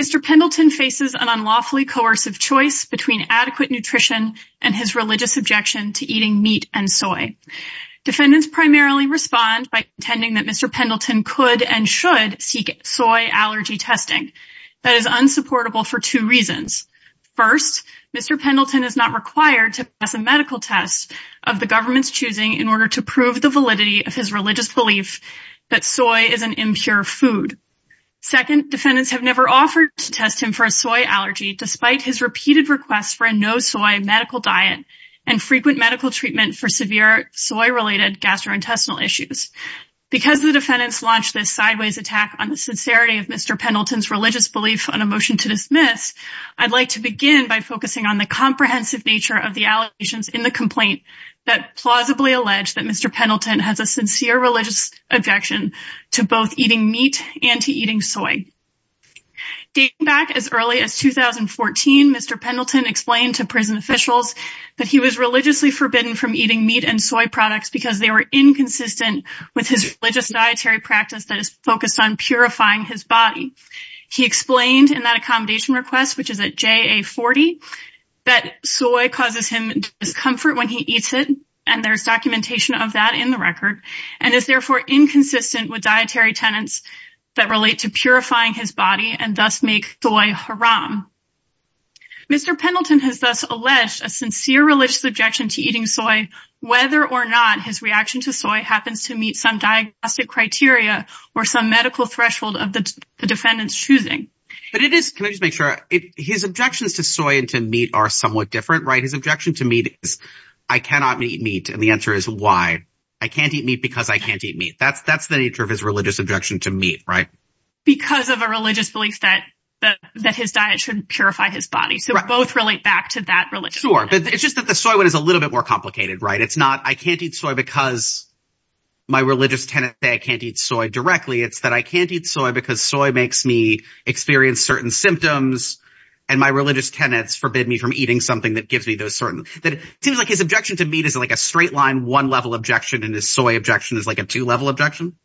Mr. Pendleton faces an unlawfully coercive choice between adequate nutrition and his religious objection to eating meat and soy. Defendants primarily respond by contending that Mr. Pendleton could and should seek soy allergy testing. That is unsupportable for two reasons. First, Mr. Pendleton is not required to pass a medical test of the government's choosing in order to prove the validity of his religious belief that soy is an impure food. Second, defendants have never offered to test him for a soy allergy, despite his repeated requests for a no-soy medical diet and frequent medical treatment for severe soy-related gastrointestinal issues. Because the defendants launched this sideways attack on the sincerity of Mr. Pendleton's religious belief on a motion to dismiss, I'd like to begin by focusing on the comprehensive nature of the allegations in the complaint that plausibly allege that Mr. Pendleton has a sincere religious objection to both eating meat and to eating soy. Dating back as early as 2014, Mr. Pendleton explained to prison officials that he was religiously forbidden from eating meat and soy products because they were inconsistent with his religious dietary practice that is focused on purifying his body. He explained in that accommodation request, which is at JA40, that soy causes him discomfort when he eats it, and there's documentation of that in the record, and is therefore inconsistent with dietary tenets that relate to purifying his body and thus make soy haram. Mr. Pendleton has thus alleged a sincere religious objection to eating soy, whether or not his reaction to soy happens to meet some diagnostic criteria or some medical threshold of the defendant's choosing. But it is, can I just make sure, his objections to soy and to meat are somewhat different, right? His objection to meat is, I cannot eat meat, and the answer is, why? I can't eat meat because I can't eat meat. That's the nature of his religious objection to meat, right? Because of a religious belief that his diet shouldn't purify his body, so both relate back to that religion. Sure. But it's just that the soy one is a little bit more complicated, right? It's not, I can't eat soy because my religious tenets say I can't eat soy directly. It's that I can't eat soy because soy makes me experience certain symptoms, and my religious tenets forbid me from eating something that gives me those certain... It seems like his objection to meat is like a straight-line, one-level objection, and his soy objection is like a two-level objection?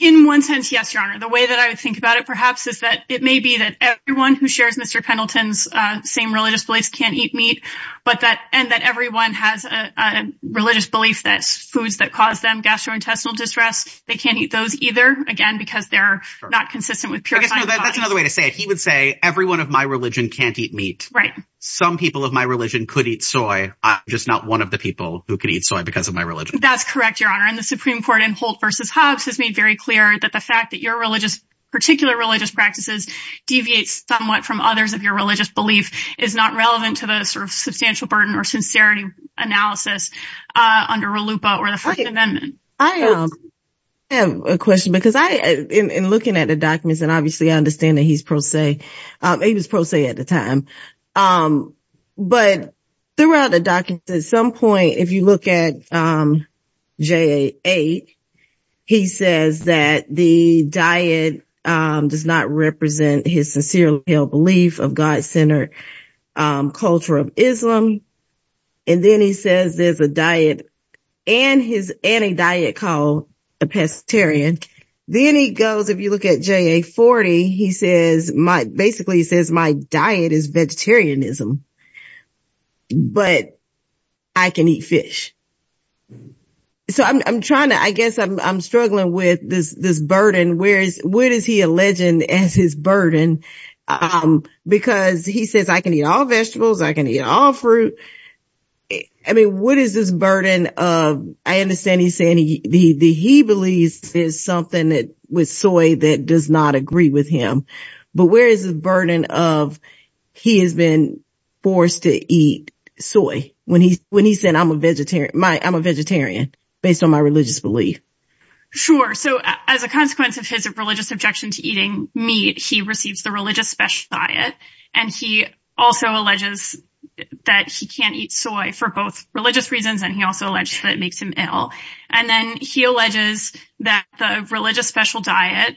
In one sense, yes, Your Honor. The way that I would think about it, perhaps, is that it may be that everyone who shares Mr. Pendleton's same religious beliefs can't eat meat, and that everyone has a religious belief that foods that cause them gastrointestinal distress, they can't eat those either, again, because they're not consistent with purifying the body. That's another way to say it. He would say, everyone of my religion can't eat meat. Right. Some people of my religion could eat soy, I'm just not one of the people who could eat soy because of my religion. That's correct, Your Honor. And the Supreme Court in Holt v. Hobbs has made very clear that the fact that your particular religious practices deviate somewhat from others of your religious belief is not relevant to the substantial burden or sincerity analysis under RLUIPA or the First Amendment. I have a question, because in looking at the documents, and obviously I understand that he's pro se, he was pro se at the time, but throughout the documents, at some point, if you look at JA-8, he says that the diet does not represent his sincerely held belief of God-centered culture of Islam. And then he says there's a diet and a diet called a pescetarian. Then he goes, if you look at JA-40, he basically says my diet is vegetarianism, but I can eat fish. So I'm trying to, I guess I'm struggling with this burden, whereas, what is he alleging as his burden, because he says I can eat all vegetables, I can eat all fruit, I mean, what is this burden of, I understand he's saying he believes there's something with soy that does not agree with him, but where is the burden of he has been forced to eat soy when he's saying I'm a vegetarian, based on my religious belief? Sure. So as a consequence of his religious objection to eating meat, he receives the religious special diet and he also alleges that he can't eat soy for both religious reasons and he also alleged that it makes him ill. And then he alleges that the religious special diet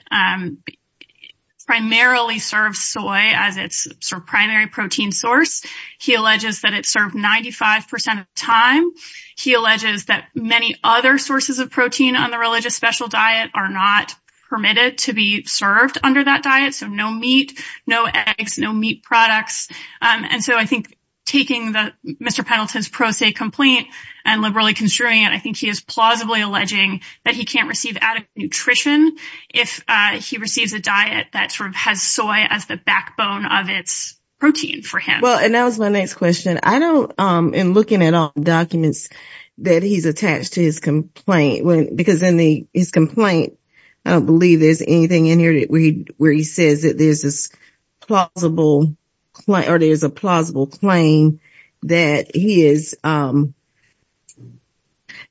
primarily serves soy as its primary protein source. He alleges that it's served 95 percent of the time. He alleges that many other sources of protein on the religious special diet are not permitted to be served under that diet. So no meat, no eggs, no meat products. And so I think taking Mr. Pendleton's pro se complaint and liberally construing it, I think he is plausibly alleging that he can't receive adequate nutrition if he receives a diet that sort of has soy as the backbone of its protein for him. Well, and that was my next question. I don't, in looking at all the documents that he's attached to his complaint, because in the his complaint, I don't believe there's anything in here where he says that there's this plausible or there's a plausible claim that he is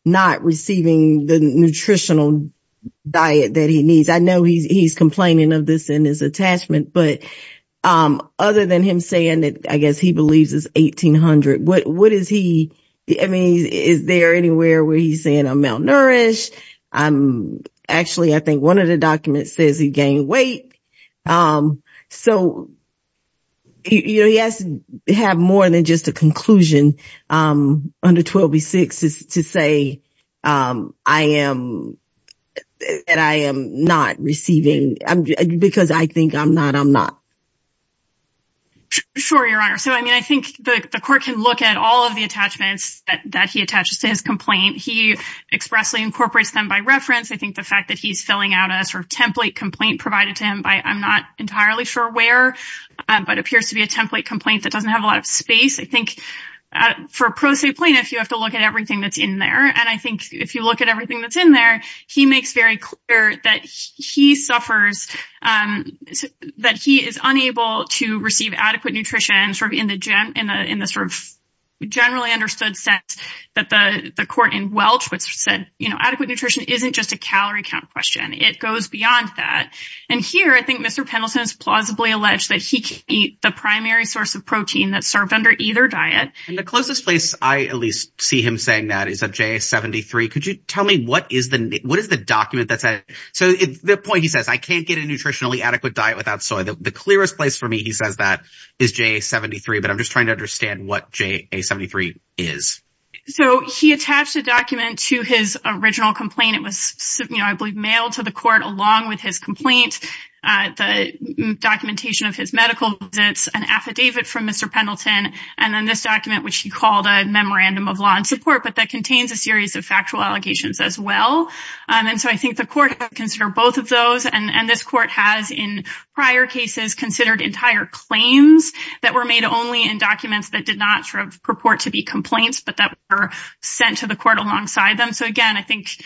not receiving the nutritional diet that he needs. I know he's complaining of this in his attachment, but other than him saying that, I guess he believes is 1800, what is he, I mean, is there anywhere where he's saying I'm malnourished? I'm actually, I think one of the documents says he gained weight. So. You know, he has to have more than just a conclusion under 12B6 to say I am and I am not receiving because I think I'm not, I'm not. Sure, Your Honor. So, I mean, I think the court can look at all of the attachments that he attaches to his complaint. He expressly incorporates them by reference. I think the fact that he's filling out a sort of template complaint provided to him by I'm not entirely sure where, but appears to be a template complaint that doesn't have a lot of space. I think for a pro se plaintiff, you have to look at everything that's in there. And I think if you look at everything that's in there, he makes very clear that he is unable to receive adequate nutrition sort of in the in the sort of generally understood sense that the court in Welchwood said, you know, adequate nutrition isn't just a calorie count question. It goes beyond that. And here I think Mr. Pendleton is plausibly alleged that he can't eat the primary source of protein that's served under either diet. And the closest place I at least see him saying that is at J73. Could you tell me what is the what is the document that's at? So the point he says, I can't get a nutritionally adequate diet without soy. The clearest place for me, he says, that is J73. But I'm just trying to understand what J73 is. So he attached a document to his original complaint. It was, I believe, mailed to the court along with his complaint, the documentation of his medical visits, an affidavit from Mr. Pendleton and then this document, which he called a memorandum of law and support. But that contains a series of factual allegations as well. And so I think the court consider both of those. And this court has in prior cases considered entire claims that were made only in documents that did not purport to be complaints, but that were sent to the court alongside them. So, again, I think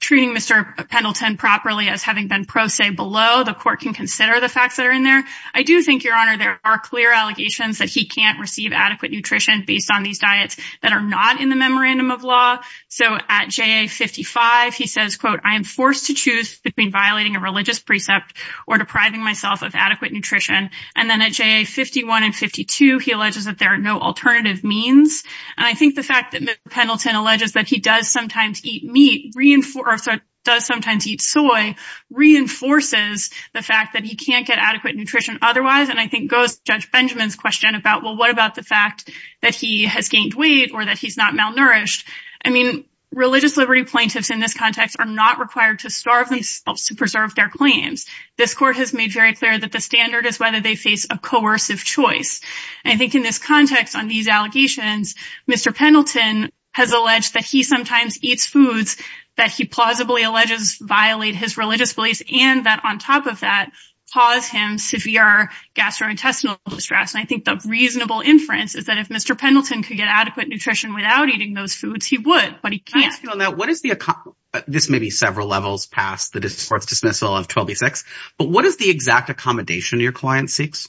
treating Mr. Pendleton properly as having been pro se below the court can consider the facts that are in there. I do think, Your Honor, there are clear allegations that he can't receive adequate nutrition based on these diets that are not in the memorandum of law. So at J55, he says, quote, I am forced to choose between violating a religious precept or depriving myself of adequate nutrition. And then at J51 and 52, he alleges that there are no alternative means. And I think the fact that Pendleton alleges that he does sometimes eat meat, does sometimes eat soy, reinforces the fact that he can't get adequate nutrition otherwise. And I think goes to Judge Benjamin's question about, well, what about the fact that he has gained weight or that he's not malnourished? I mean, religious liberty plaintiffs in this context are not required to starve themselves to preserve their claims. This court has made very clear that the standard is whether they face a coercive choice. I think in this context, on these allegations, Mr. Pendleton has alleged that he sometimes eats foods that he plausibly alleges violate his religious beliefs and that on top of that, cause him severe gastrointestinal distress. And I think the reasonable inference is that if Mr. Pendleton were to eat those foods, he would, but he can't. I want to ask you on that, this may be several levels past the court's dismissal of 12B6, but what is the exact accommodation your client seeks?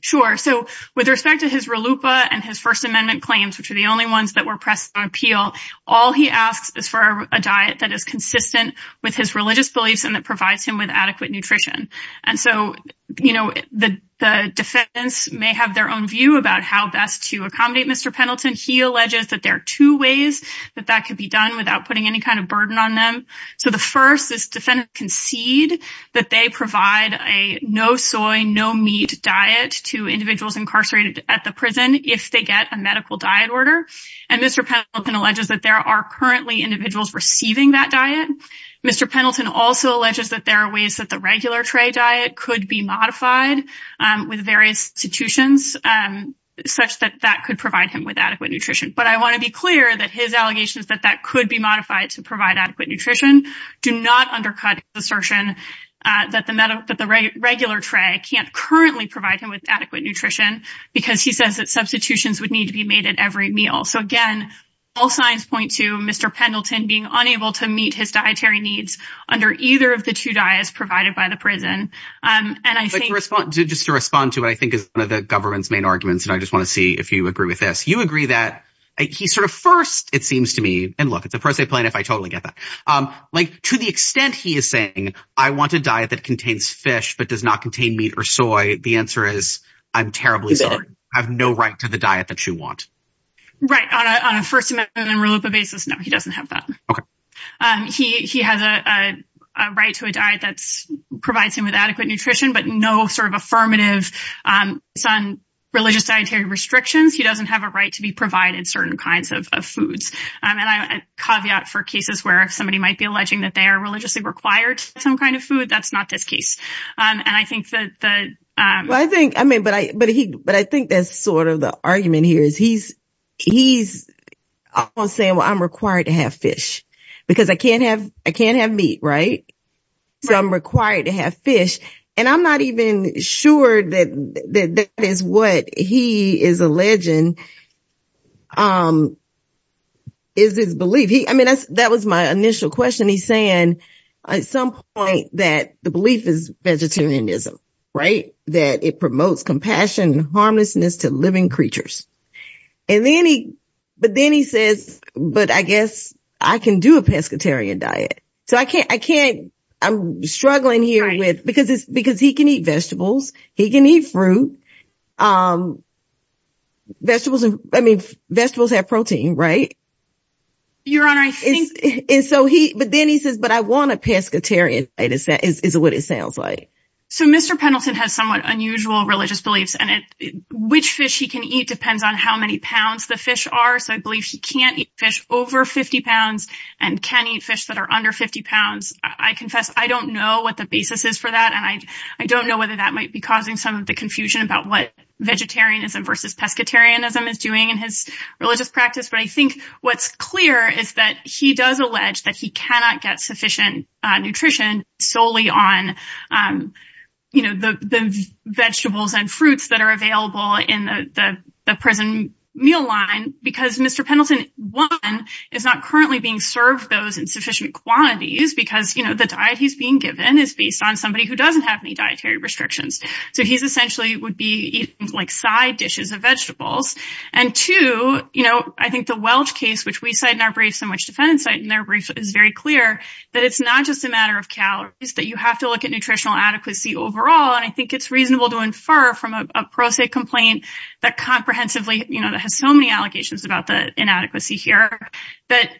Sure. So with respect to his RLUPA and his First Amendment claims, which are the only ones that were pressed on appeal, all he asks is for a diet that is consistent with his religious beliefs and that provides him with adequate nutrition. And so, you know, the defendants may have their own view about how best to accommodate Mr. Pendleton. He alleges that there are two ways that that could be done without putting any kind of burden on them. So the first is defendants concede that they provide a no soy, no meat diet to individuals incarcerated at the prison if they get a medical diet order. And Mr. Pendleton alleges that there are currently individuals receiving that diet. Mr. Pendleton also alleges that there are ways that the regular tray diet could be But I want to be clear that his allegations that that could be modified to provide adequate nutrition do not undercut the assertion that the regular tray can't currently provide him with adequate nutrition because he says that substitutions would need to be made at every meal. So, again, all signs point to Mr. Pendleton being unable to meet his dietary needs under either of the two diets provided by the prison. And I think just to respond to what I think is one of the government's main arguments, and I just want to see if you agree with this. You agree that he sort of first, it seems to me, and look, it's a pro se plan if I totally get that, like to the extent he is saying, I want a diet that contains fish but does not contain meat or soy. The answer is, I'm terribly sorry, I have no right to the diet that you want. Right. On a first amendment and rule of the basis. No, he doesn't have that. He has a right to a diet that provides him with adequate nutrition, but no sort of affirmative religious dietary restrictions. He doesn't have a right to be provided certain kinds of foods. I mean, a caveat for cases where somebody might be alleging that they are religiously required some kind of food. That's not this case. And I think that I think I mean, but I but I think that's sort of the argument here is he's he's saying, well, I'm required to have fish because I can't have I can't have meat. Right. So I'm required to have fish. And I'm not even sure that that is what he is alleging is his belief. He I mean, that was my initial question. He's saying at some point that the belief is vegetarianism. Right. That it promotes compassion, harmlessness to living creatures. And then he but then he says, but I guess I can do a pescatarian diet. So I can't I can't I'm struggling here with because it's because he can eat vegetables. He can eat fruit. Vegetables and I mean, vegetables have protein, right? Your Honor, I think it's so he but then he says, but I want a pescatarian. It is what it sounds like. So Mr. Pendleton has somewhat unusual religious beliefs and which fish he can eat depends on how many pounds the fish are. I believe he can't eat fish over 50 pounds and can eat fish that are under 50 pounds. I confess, I don't know what the basis is for that. And I don't know whether that might be causing some of the confusion about what vegetarianism versus pescatarianism is doing in his religious practice. But I think what's clear is that he does allege that he cannot get sufficient nutrition solely on the vegetables and fruits that are available in the prison meal line. Because Mr. Pendleton, one, is not currently being served those insufficient quantities because the diet he's being given is based on somebody who doesn't have any dietary restrictions. So he's essentially would be like side dishes of vegetables. And two, I think the Welch case, which we cite in our briefs and which defendant site in their brief is very clear that it's not just a matter of calories that you have to look at nutritional adequacy overall. And I think it's reasonable to infer from a pro se complaint that comprehensively has so many allegations about the inadequacy here that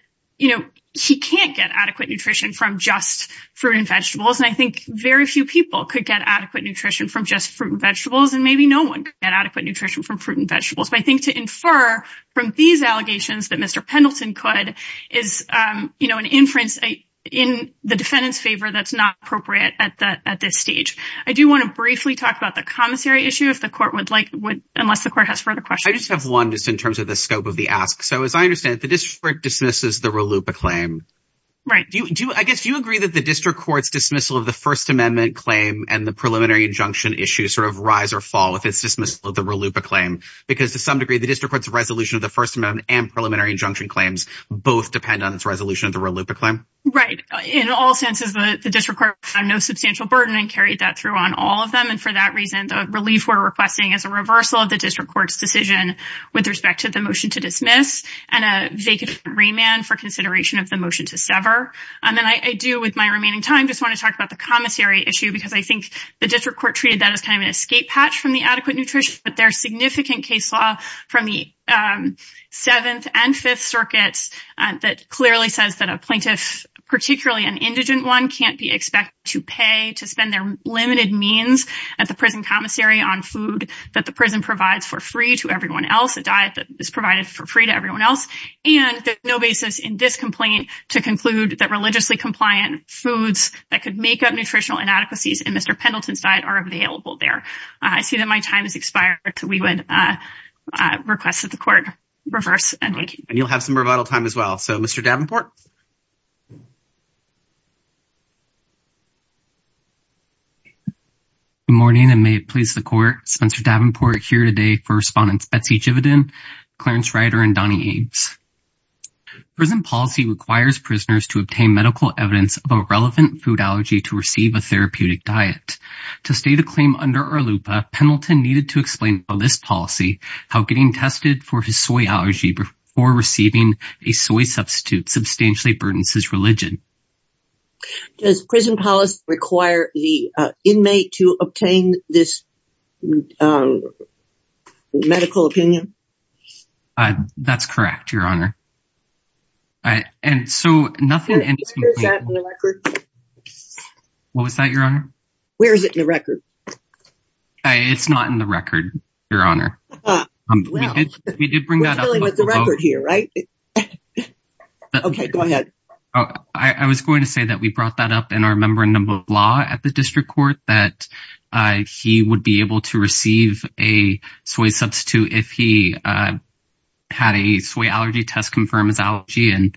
he can't get adequate nutrition from just fruit and vegetables. And I think very few people could get adequate nutrition from just fruit and vegetables. And maybe no one can get adequate nutrition from fruit and vegetables. But I think to infer from these allegations that Mr. Pendleton could is an inference in the defendant's favor that's not appropriate at this stage. I do want to briefly talk about the commissary issue if the court would like, unless the court has further questions. I just have one just in terms of the scope of the ask. So as I understand it, the district dismisses the RLUIPA claim. Right. I guess do you agree that the district court's dismissal of the First Amendment claim and the preliminary injunction issue sort of rise or fall if it's dismissal of the RLUIPA claim? Because to some degree, the district court's resolution of the First Amendment and preliminary injunction claims both depend on its resolution of the RLUIPA claim. Right. In all senses, the district court had no substantial burden and carried that through on all of them. And for that reason, the relief we're requesting is a reversal of the district court's decision with respect to the motion to dismiss and a vacant remand for consideration of the motion to sever. And then I do, with my remaining time, just want to talk about the commissary issue because I think the district court treated that as kind of an escape hatch from the adequate nutrition. But there's significant case law from the Seventh and Fifth Circuits that clearly says that a plaintiff, particularly an indigent one, can't be expected to pay, to spend their is provided for free to everyone else. And there's no basis in this complaint to conclude that religiously compliant foods that could make up nutritional inadequacies in Mr. Pendleton's diet are available there. I see that my time has expired, so we would request that the court reverse. And you'll have some revital time as well. So, Mr. Davenport. Good morning, and may it please the court, Spencer Davenport here today for Respondent Betsy Jividen, Clarence Ryder, and Donny Eades. Prison policy requires prisoners to obtain medical evidence of a relevant food allergy to receive a therapeutic diet. To state a claim under ARLUPA, Pendleton needed to explain for this policy how getting tested for his soy allergy before receiving a soy substitute substantially burdens his religion. Does prison policy require the inmate to obtain this medical opinion? That's correct, Your Honor. What was that, Your Honor? Where is it in the record? It's not in the record, Your Honor. We did bring that up. We're dealing with the record here, right? Okay, go ahead. I was going to say that we brought that up in our Memorandum of Law at the District Court, that he would be able to receive a soy substitute if he had a soy allergy test confirm his allergy, and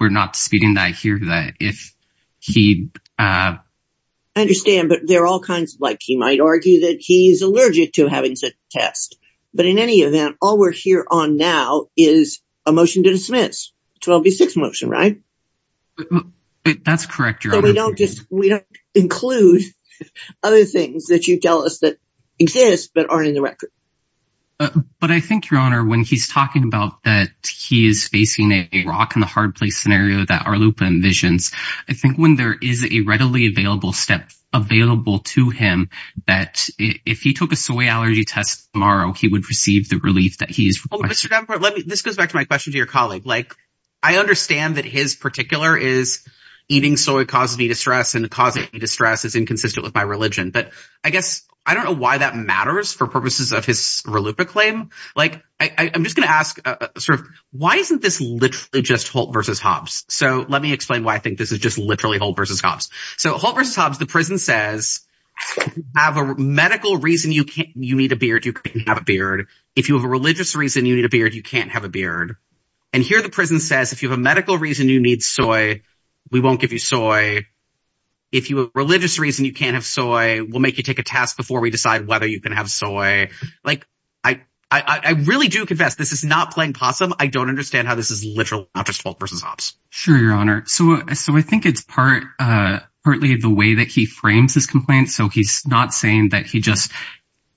we're not disputing that here, that if he... I understand, but there are all kinds of, like, he might argue that he's allergic to having such a test. But in any event, all we're here on now is a motion to dismiss. 12B6 motion, right? That's correct, Your Honor. We don't include other things that you tell us that exist but aren't in the record. But I think, Your Honor, when he's talking about that he is facing a rock-in-the-hard-place scenario that RLUIPA envisions, I think when there is a readily available step available to him that if he took a soy allergy test tomorrow, he would receive the relief that he is requesting. This goes back to my question to your colleague. I understand that his particular is, eating soy causes me distress, and causing me distress is inconsistent with my religion. But I guess I don't know why that matters for purposes of his RLUIPA claim. I'm just going to ask, why isn't this literally just Holt v. Hobbs? So let me explain why I think this is just literally Holt v. Hobbs. So Holt v. Hobbs, the prison says, have a medical reason you need a beard, you can't have a beard. If you have a religious reason you need a beard, you can't have a beard. And here the prison says, if you have a medical reason you need soy, we won't give you soy. If you have a religious reason you can't have soy, we'll make you take a test before we decide whether you can have soy. Like, I really do confess, this is not playing possum. I don't understand how this is literally just Holt v. Hobbs. Sure, your honor. So I think it's partly the way that he frames his complaint. So he's not saying that he just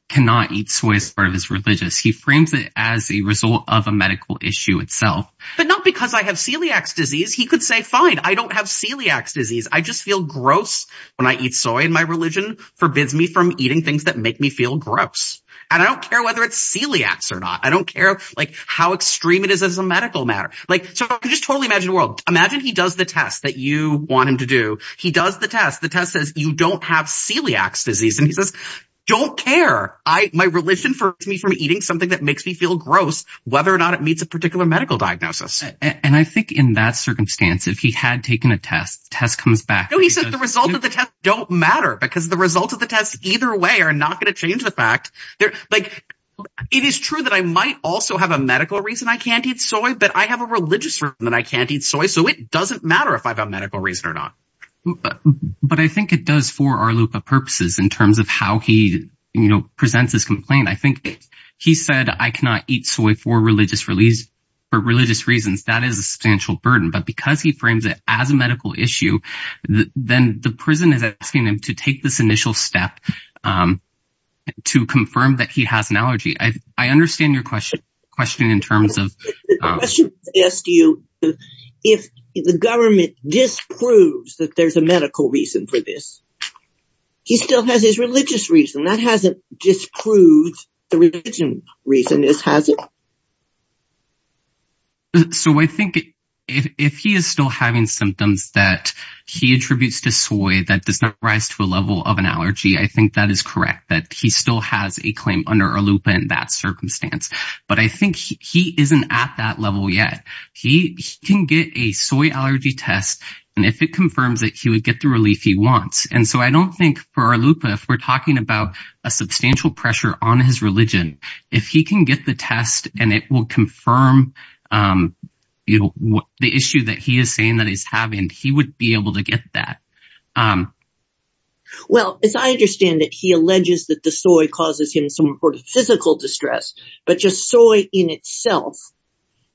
cannot eat soy as part of his religious. He frames it as a result of a medical issue itself. But not because I have celiac's disease. He could say, fine, I don't have celiac's disease. I just feel gross when I eat soy. And my religion forbids me from eating things that make me feel gross. And I don't care whether it's celiac's or not. I don't care how extreme it is as a medical matter. So I can just totally imagine the world. Imagine he does the test that you want him to do. He does the test. The test says, you don't have celiac's disease. And he says, don't care. My religion forbids me from eating something that makes me feel gross, whether or not it meets a particular medical diagnosis. And I think in that circumstance, if he had taken a test, test comes back. He said the result of the test don't matter, because the results of the test either way are not going to change the fact. It is true that I might also have a medical reason I can't eat soy, but I have a religious reason that I can't eat soy. So it doesn't matter if I have a medical reason or not. But I think it does for Arlupa purposes in terms of how he presents his complaint. I think he said, I cannot eat soy for religious reasons. That is a substantial burden. But because he frames it as a medical issue, then the prison is asking him to take this initial step to confirm that he has an allergy. I understand your question in terms of... The question is to you, if the government disproves that there's a medical reason for this, he still has his religious reason. That hasn't disproved the religion reason, has it? So I think if he is still having symptoms that he attributes to soy that does not rise to a level of an allergy, I think that is correct that he still has a claim under Arlupa in that circumstance. But I think he isn't at that level yet. He can get a soy allergy test, and if it confirms that he would get the relief he wants. And so I don't think for Arlupa, if we're talking about a substantial pressure on his religion, if he can get the test and it will confirm the issue that he is saying that he's having, he would be able to get that. Well, as I understand it, he alleges that the soy causes him some sort of physical distress, but just soy in itself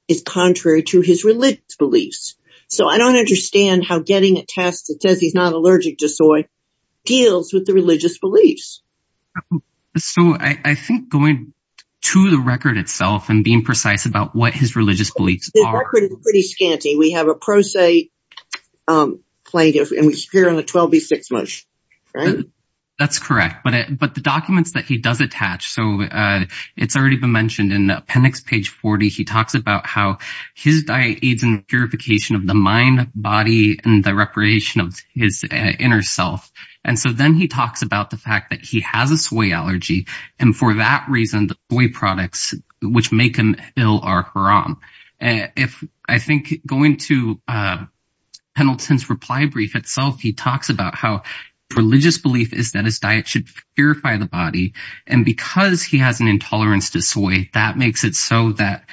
is contrary to his religious beliefs. So I don't understand how getting a test that says he's not allergic to soy deals with the religious beliefs. So I think going to the record itself and being precise about what his religious beliefs are. The record is pretty scanty. We have a pro se plaintiff and we hear on the 12b6 motion, right? That's correct. But the documents that he does attach, so it's already been mentioned in appendix page 40. He talks about how his diet aids in purification of the mind, body and the reparation of his inner self. And so then he talks about the fact that he has a soy allergy. And for that reason, the soy products which make him ill are haram. If I think going to Pendleton's reply brief itself, he talks about how religious belief is that his diet should purify the body. And because he has an intolerance to soy, that makes it so that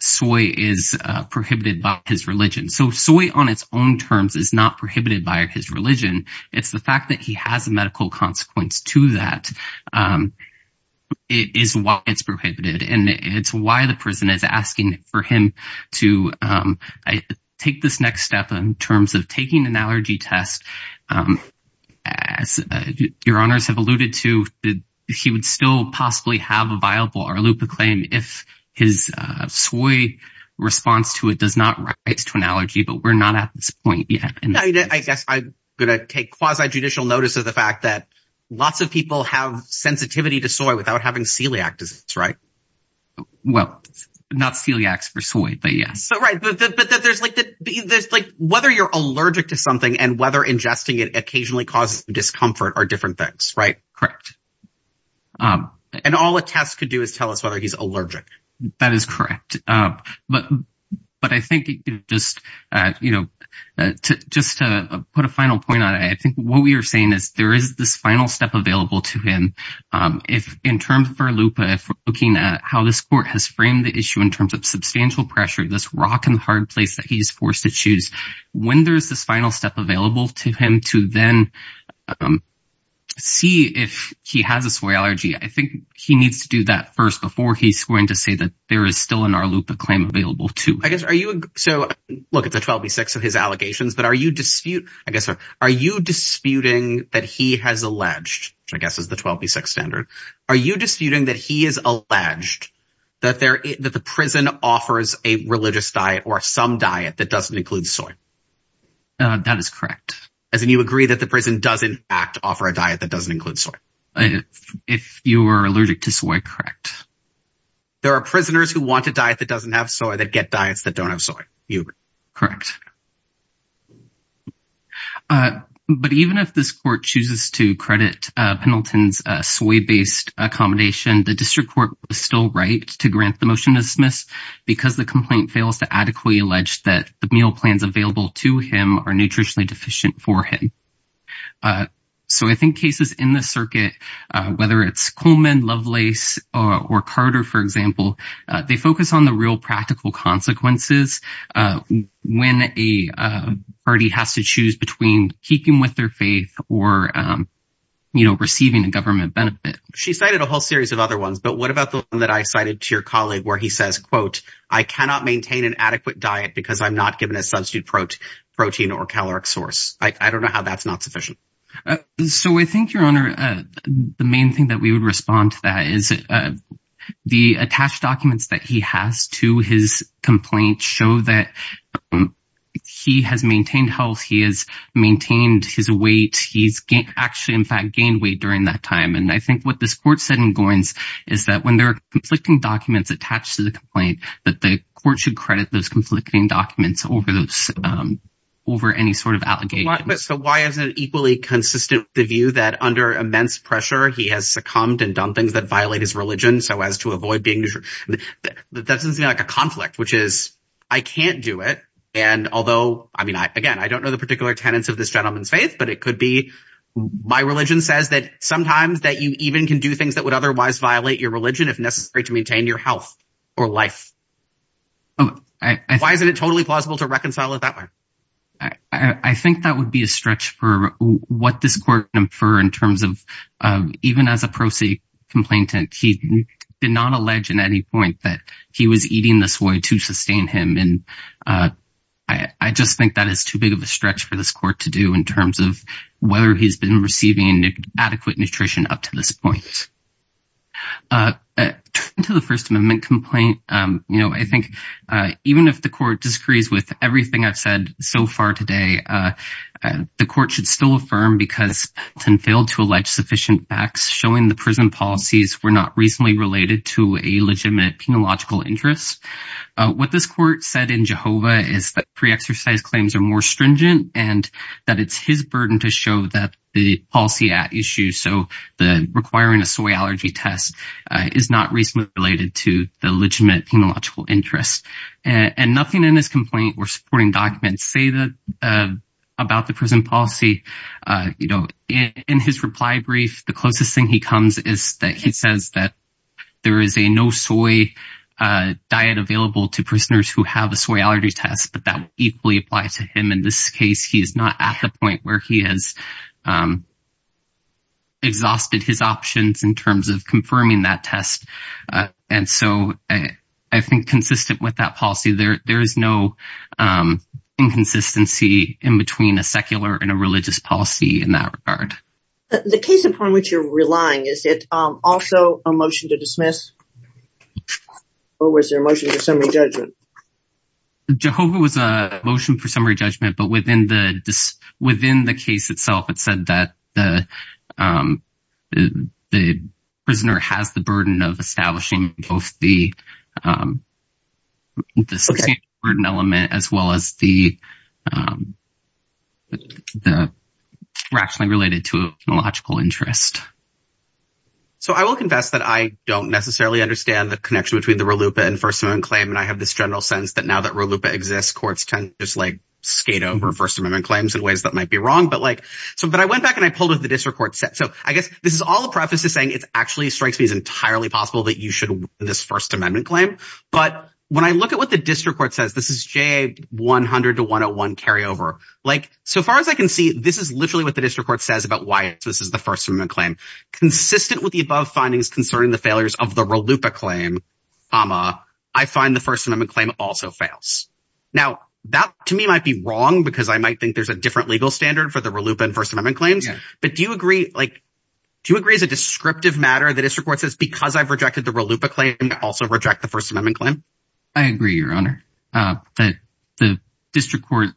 soy is prohibited by his religion. So soy on its own terms is not prohibited by his religion. It's the fact that he has a medical consequence to that is why it's prohibited. And it's why the prison is asking for him to take this next step in terms of taking an allergy test. As your honors have alluded to, he would still possibly have a viable Arlupa claim if his soy response to it does not rise to an allergy. But we're not at this point yet. And I guess I'm going to take quasi-judicial notice of the fact that lots of people have sensitivity to soy without having celiac disease, right? Well, not celiacs for soy, but yes. So right, but there's like whether you're allergic to something and whether ingesting it occasionally causes discomfort are different things, right? Correct. And all a test could do is tell us whether he's allergic. That is correct. But I think just to put a final point on it, I think what we are saying is there is this final step available to him. If in terms of Arlupa, if we're looking at how this court has framed the issue in terms of substantial pressure, this rock and hard place that he's forced to choose, when there's this final step available to him to then see if he has a soy allergy, I think he needs to do that first before he's going to say that there is still an Arlupa claim available too. I guess, so look, it's a 12b6 of his allegations, but are you dispute, I guess, are you disputing that he has alleged, which I guess is the 12b6 standard, are you disputing that he is alleged that the prison offers a religious diet or some diet that doesn't include soy? That is correct. As in you agree that the prison does in fact offer a diet that doesn't include soy? If you were allergic to soy, correct. There are prisoners who want a diet that doesn't have soy that get diets that don't have soy, you agree? Correct. But even if this court chooses to credit Pendleton's soy-based accommodation, the district court was still right to grant the motion to dismiss because the complaint fails to adequately allege that the meal plans available to him are nutritionally deficient for him. So I think cases in the circuit, whether it's Coleman, Lovelace, or Carter, for example, they focus on the real practical consequences when a party has to choose between keeping with their faith or, you know, receiving a government benefit. She cited a whole series of other ones, but what about the one that I cited to your colleague where he says, quote, I cannot maintain an adequate diet because I'm not given a substitute protein or caloric source. I don't know how that's not sufficient. So I think, Your Honor, the main thing that we would respond to that is the attached documents that he has to his complaint show that he has maintained health, he has maintained his weight, he's actually in fact gained weight during that time. I think what this court said in Goynes is that when there are conflicting documents attached to the complaint, that the court should credit those conflicting documents over any sort of allegation. So why isn't it equally consistent with the view that under immense pressure, he has succumbed and done things that violate his religion so as to avoid being that doesn't seem like a conflict, which is, I can't do it. And although, I mean, again, I don't know the particular tenets of this gentleman's faith, but it could be my religion says that sometimes that you even can do things that would otherwise violate your religion if necessary to maintain your health or life. Why isn't it totally plausible to reconcile it that way? I think that would be a stretch for what this court infer in terms of even as a pro se complainant, he did not allege in any point that he was eating the soy to sustain him. And I just think that is too big of a stretch for this court to do in terms of whether he's been receiving adequate nutrition up to this point. To the First Amendment complaint, I think even if the court disagrees with everything I've said so far today, the court should still affirm because it failed to allege sufficient facts showing the prison policies were not reasonably related to a legitimate penological interest. What this court said in Jehovah is that pre-exercise claims are more stringent and that it's his burden to show that the policy at issue, so the requiring a soy allergy test is not reasonably related to the legitimate penological interest. And nothing in this complaint or supporting documents say that about the prison policy. In his reply brief, the closest thing he comes is that he says that there is a no soy diet available to prisoners who have a soy allergy test, but that equally applies to him. In this case, he is not at the point where he has exhausted his options in terms of confirming that test. And so I think consistent with that policy, there is no inconsistency in between a secular and a religious policy in that regard. The case upon which you're relying, is it also a motion to dismiss? Or was there a motion for summary judgment? Jehovah was a motion for summary judgment, but within the case itself, it said that the prisoner has the burden of establishing both the burden element as well as the rationally related to a logical interest. So I will confess that I don't necessarily understand the connection between the RLUIPA and First Amendment claim. And I have this general sense that now that RLUIPA exists, courts tend to just like skate over First Amendment claims in ways that might be wrong. But I went back and I pulled up the district court set. So I guess this is all a preface to saying it actually strikes me as entirely possible that you should win this First Amendment claim. But when I look at what the district court says, this is JA 100 to 101 carryover. So far as I can see, this is literally what the district court says about why this is the First Amendment claim. Consistent with the above findings concerning the failures of the RLUIPA claim, I find the First Amendment claim also fails. Now, that to me might be wrong because I might think there's a different legal standard for the RLUIPA and First Amendment claims. But do you agree? Do you agree as a descriptive matter that district court says because I've rejected the RLUIPA claim, I also reject the First Amendment claim? I agree, Your Honor. The district court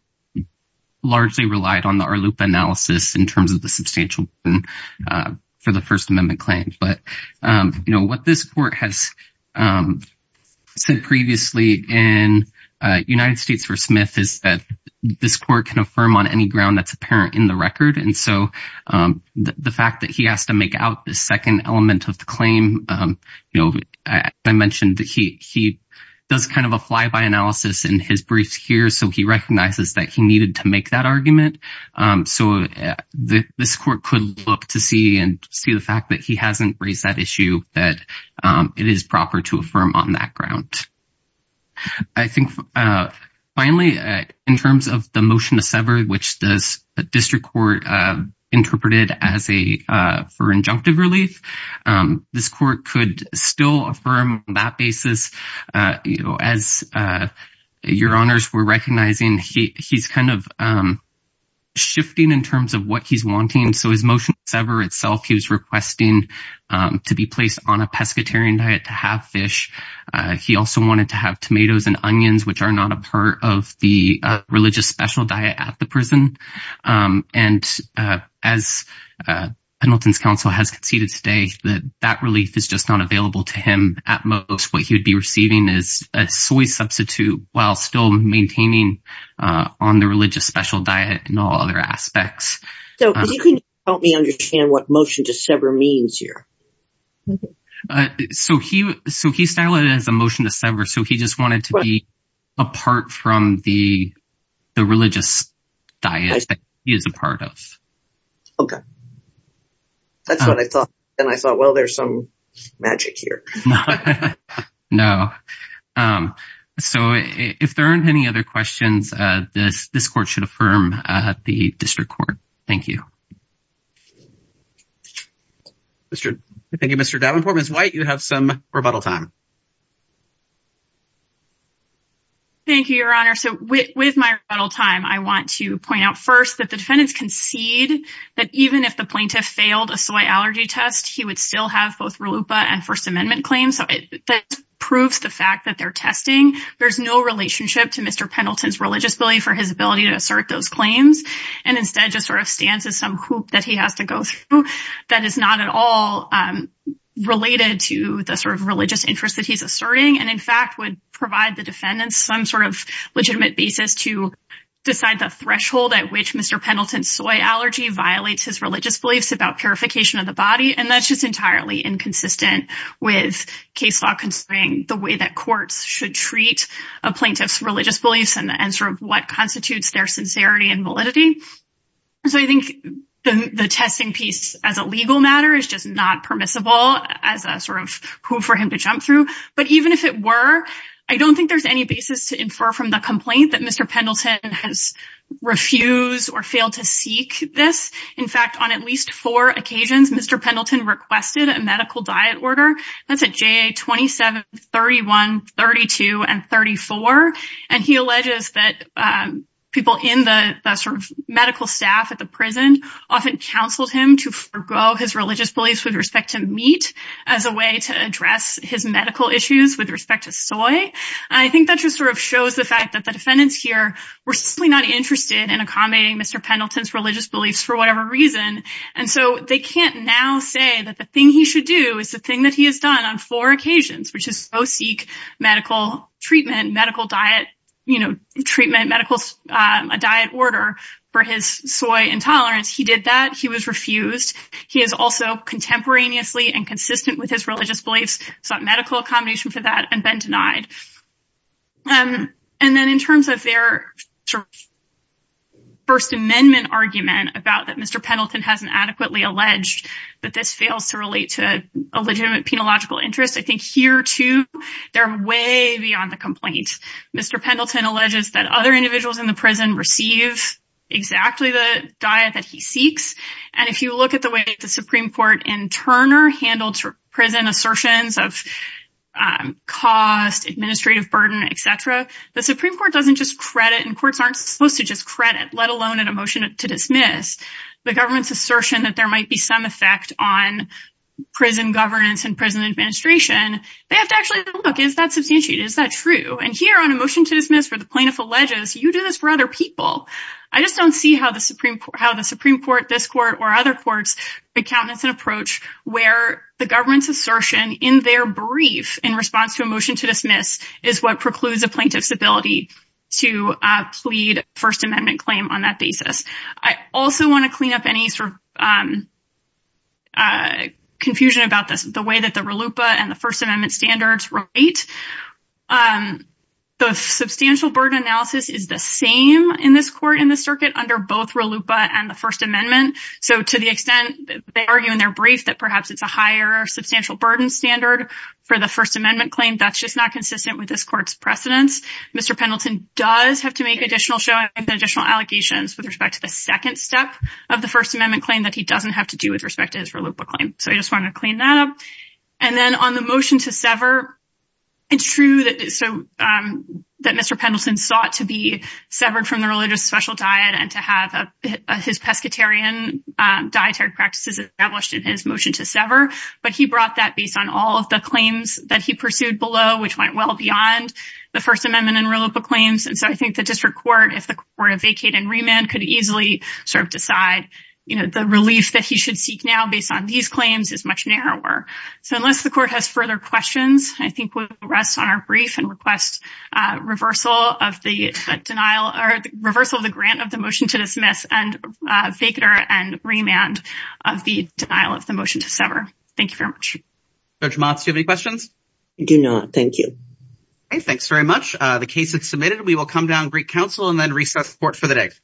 largely relied on the RLUIPA analysis in terms of the substantial the First Amendment claims. But what this court has said previously in United States v. Smith is that this court can affirm on any ground that's apparent in the record. And so the fact that he has to make out the second element of the claim, I mentioned that he does kind of a flyby analysis in his briefs here. So he recognizes that he needed to make that argument. So this court could look to see and see the fact that he hasn't raised that issue, that it is proper to affirm on that ground. I think finally, in terms of the motion to sever, which the district court interpreted for injunctive relief, this court could still affirm that basis. As Your Honors were recognizing, he's kind of shifting in terms of what he's wanting. So his motion to sever itself, he was requesting to be placed on a pescatarian diet to have fish. He also wanted to have tomatoes and onions, which are not a part of the religious special diet at the prison. And as Pendleton's counsel has conceded today that that relief is just not available to him at most, what he would be receiving is a soy substitute while still maintaining on the religious special diet and all other aspects. So can you help me understand what motion to sever means here? So he styled it as a motion to sever. So he just wanted to be apart from the religious diet that he is a part of. Okay. That's what I thought. And I thought, well, there's some magic here. No. So if there aren't any other questions, this court should affirm the district court. Thank you. Thank you, Mr. Davenport. Ms. White, you have some rebuttal time. Thank you, Your Honor. So with my rebuttal time, I want to point out first that the defendants concede that even if the plaintiff failed a soy allergy test, he would still have both RLUIPA and First Amendment claims. That proves the fact that they're testing. There's no relationship to Mr. Pendleton's religious belief or his ability to assert those claims and instead just sort of stands as some hoop that he has to go through that is not at all related to the sort of religious interest that he's asserting and, in fact, would provide the defendants some sort of legitimate basis to decide the threshold at which Mr. Pendleton's soy allergy violates his religious beliefs about purification of the body. And that's just entirely inconsistent with case law considering the way that courts should treat a plaintiff's religious beliefs and sort of what constitutes their sincerity and validity. So I think the testing piece as a legal matter is just not permissible as a sort of hoop for him to jump through. But even if it were, I don't think there's any basis to infer from the complaint that Mr. Pendleton has refused or failed to seek this. In fact, on at least four occasions, Mr. Pendleton requested a medical diet order. That's at JA 27, 31, 32, and 34. And he alleges that people in the sort of medical staff at the prison often counseled him to forego his religious beliefs with respect to meat as a way to address his medical issues with respect to soy. I think that just sort of shows the fact that the defendants here were simply not interested in accommodating Mr. Pendleton's religious beliefs for whatever reason. And so they can't now say that the thing he should do is the thing that he has done on four occasions, which is go seek medical treatment, medical diet, you know, treatment, a diet order for his soy intolerance. He did that. He was refused. He has also contemporaneously and consistent with his religious beliefs sought medical accommodation for that and been denied. And then in terms of their First Amendment argument about that, Mr. Pendleton hasn't adequately alleged that this fails to relate to a legitimate penological interest. I think here, too, they're way beyond the complaint. Mr. Pendleton alleges that other individuals in the prison receive exactly the diet that he seeks. And if you look at the way the Supreme Court and Turner handled prison assertions of cost, administrative burden, et cetera, the Supreme Court doesn't just credit and courts aren't supposed to just credit, let alone in a motion to dismiss the government's assertion that there might be some effect on prison governance and prison administration. They have to actually look, is that substantiated? Is that true? And here on a motion to dismiss for the plaintiff alleges you do this for other people. I just don't see how the Supreme Court, how the Supreme Court, this court or other courts accountants and approach where the government's assertion in their brief in response to a is what precludes a plaintiff's ability to plead First Amendment claim on that basis. I also want to clean up any sort of confusion about this, the way that the RLUIPA and the First Amendment standards relate. The substantial burden analysis is the same in this court in the circuit under both RLUIPA and the First Amendment. So to the extent they argue in their brief that perhaps it's a higher substantial burden standard for the First Amendment claim, that's just not consistent with this court's precedence. Mr. Pendleton does have to make additional show and additional allegations with respect to the second step of the First Amendment claim that he doesn't have to do with respect to his RLUIPA claim. So I just want to clean that up. And then on the motion to sever, it's true that Mr. Pendleton sought to be severed from the religious special diet and to have his pescatarian dietary practices established in his motion to sever. But he brought that based on all of the claims that he pursued below, which went well beyond the First Amendment and RLUIPA claims. And so I think the district court, if the court vacated and remanded, could easily sort of decide the relief that he should seek now based on these claims is much narrower. So unless the court has further questions, I think we'll rest on our brief and request reversal of the denial or reversal of the grant of the motion to dismiss and vacater and remand of the denial of the motion to sever. Thank you very much. Judge Motz, do you have any questions? I do not. Thank you. Okay. Thanks very much. The case is submitted. We will come down Greek Council and then recess court for the day.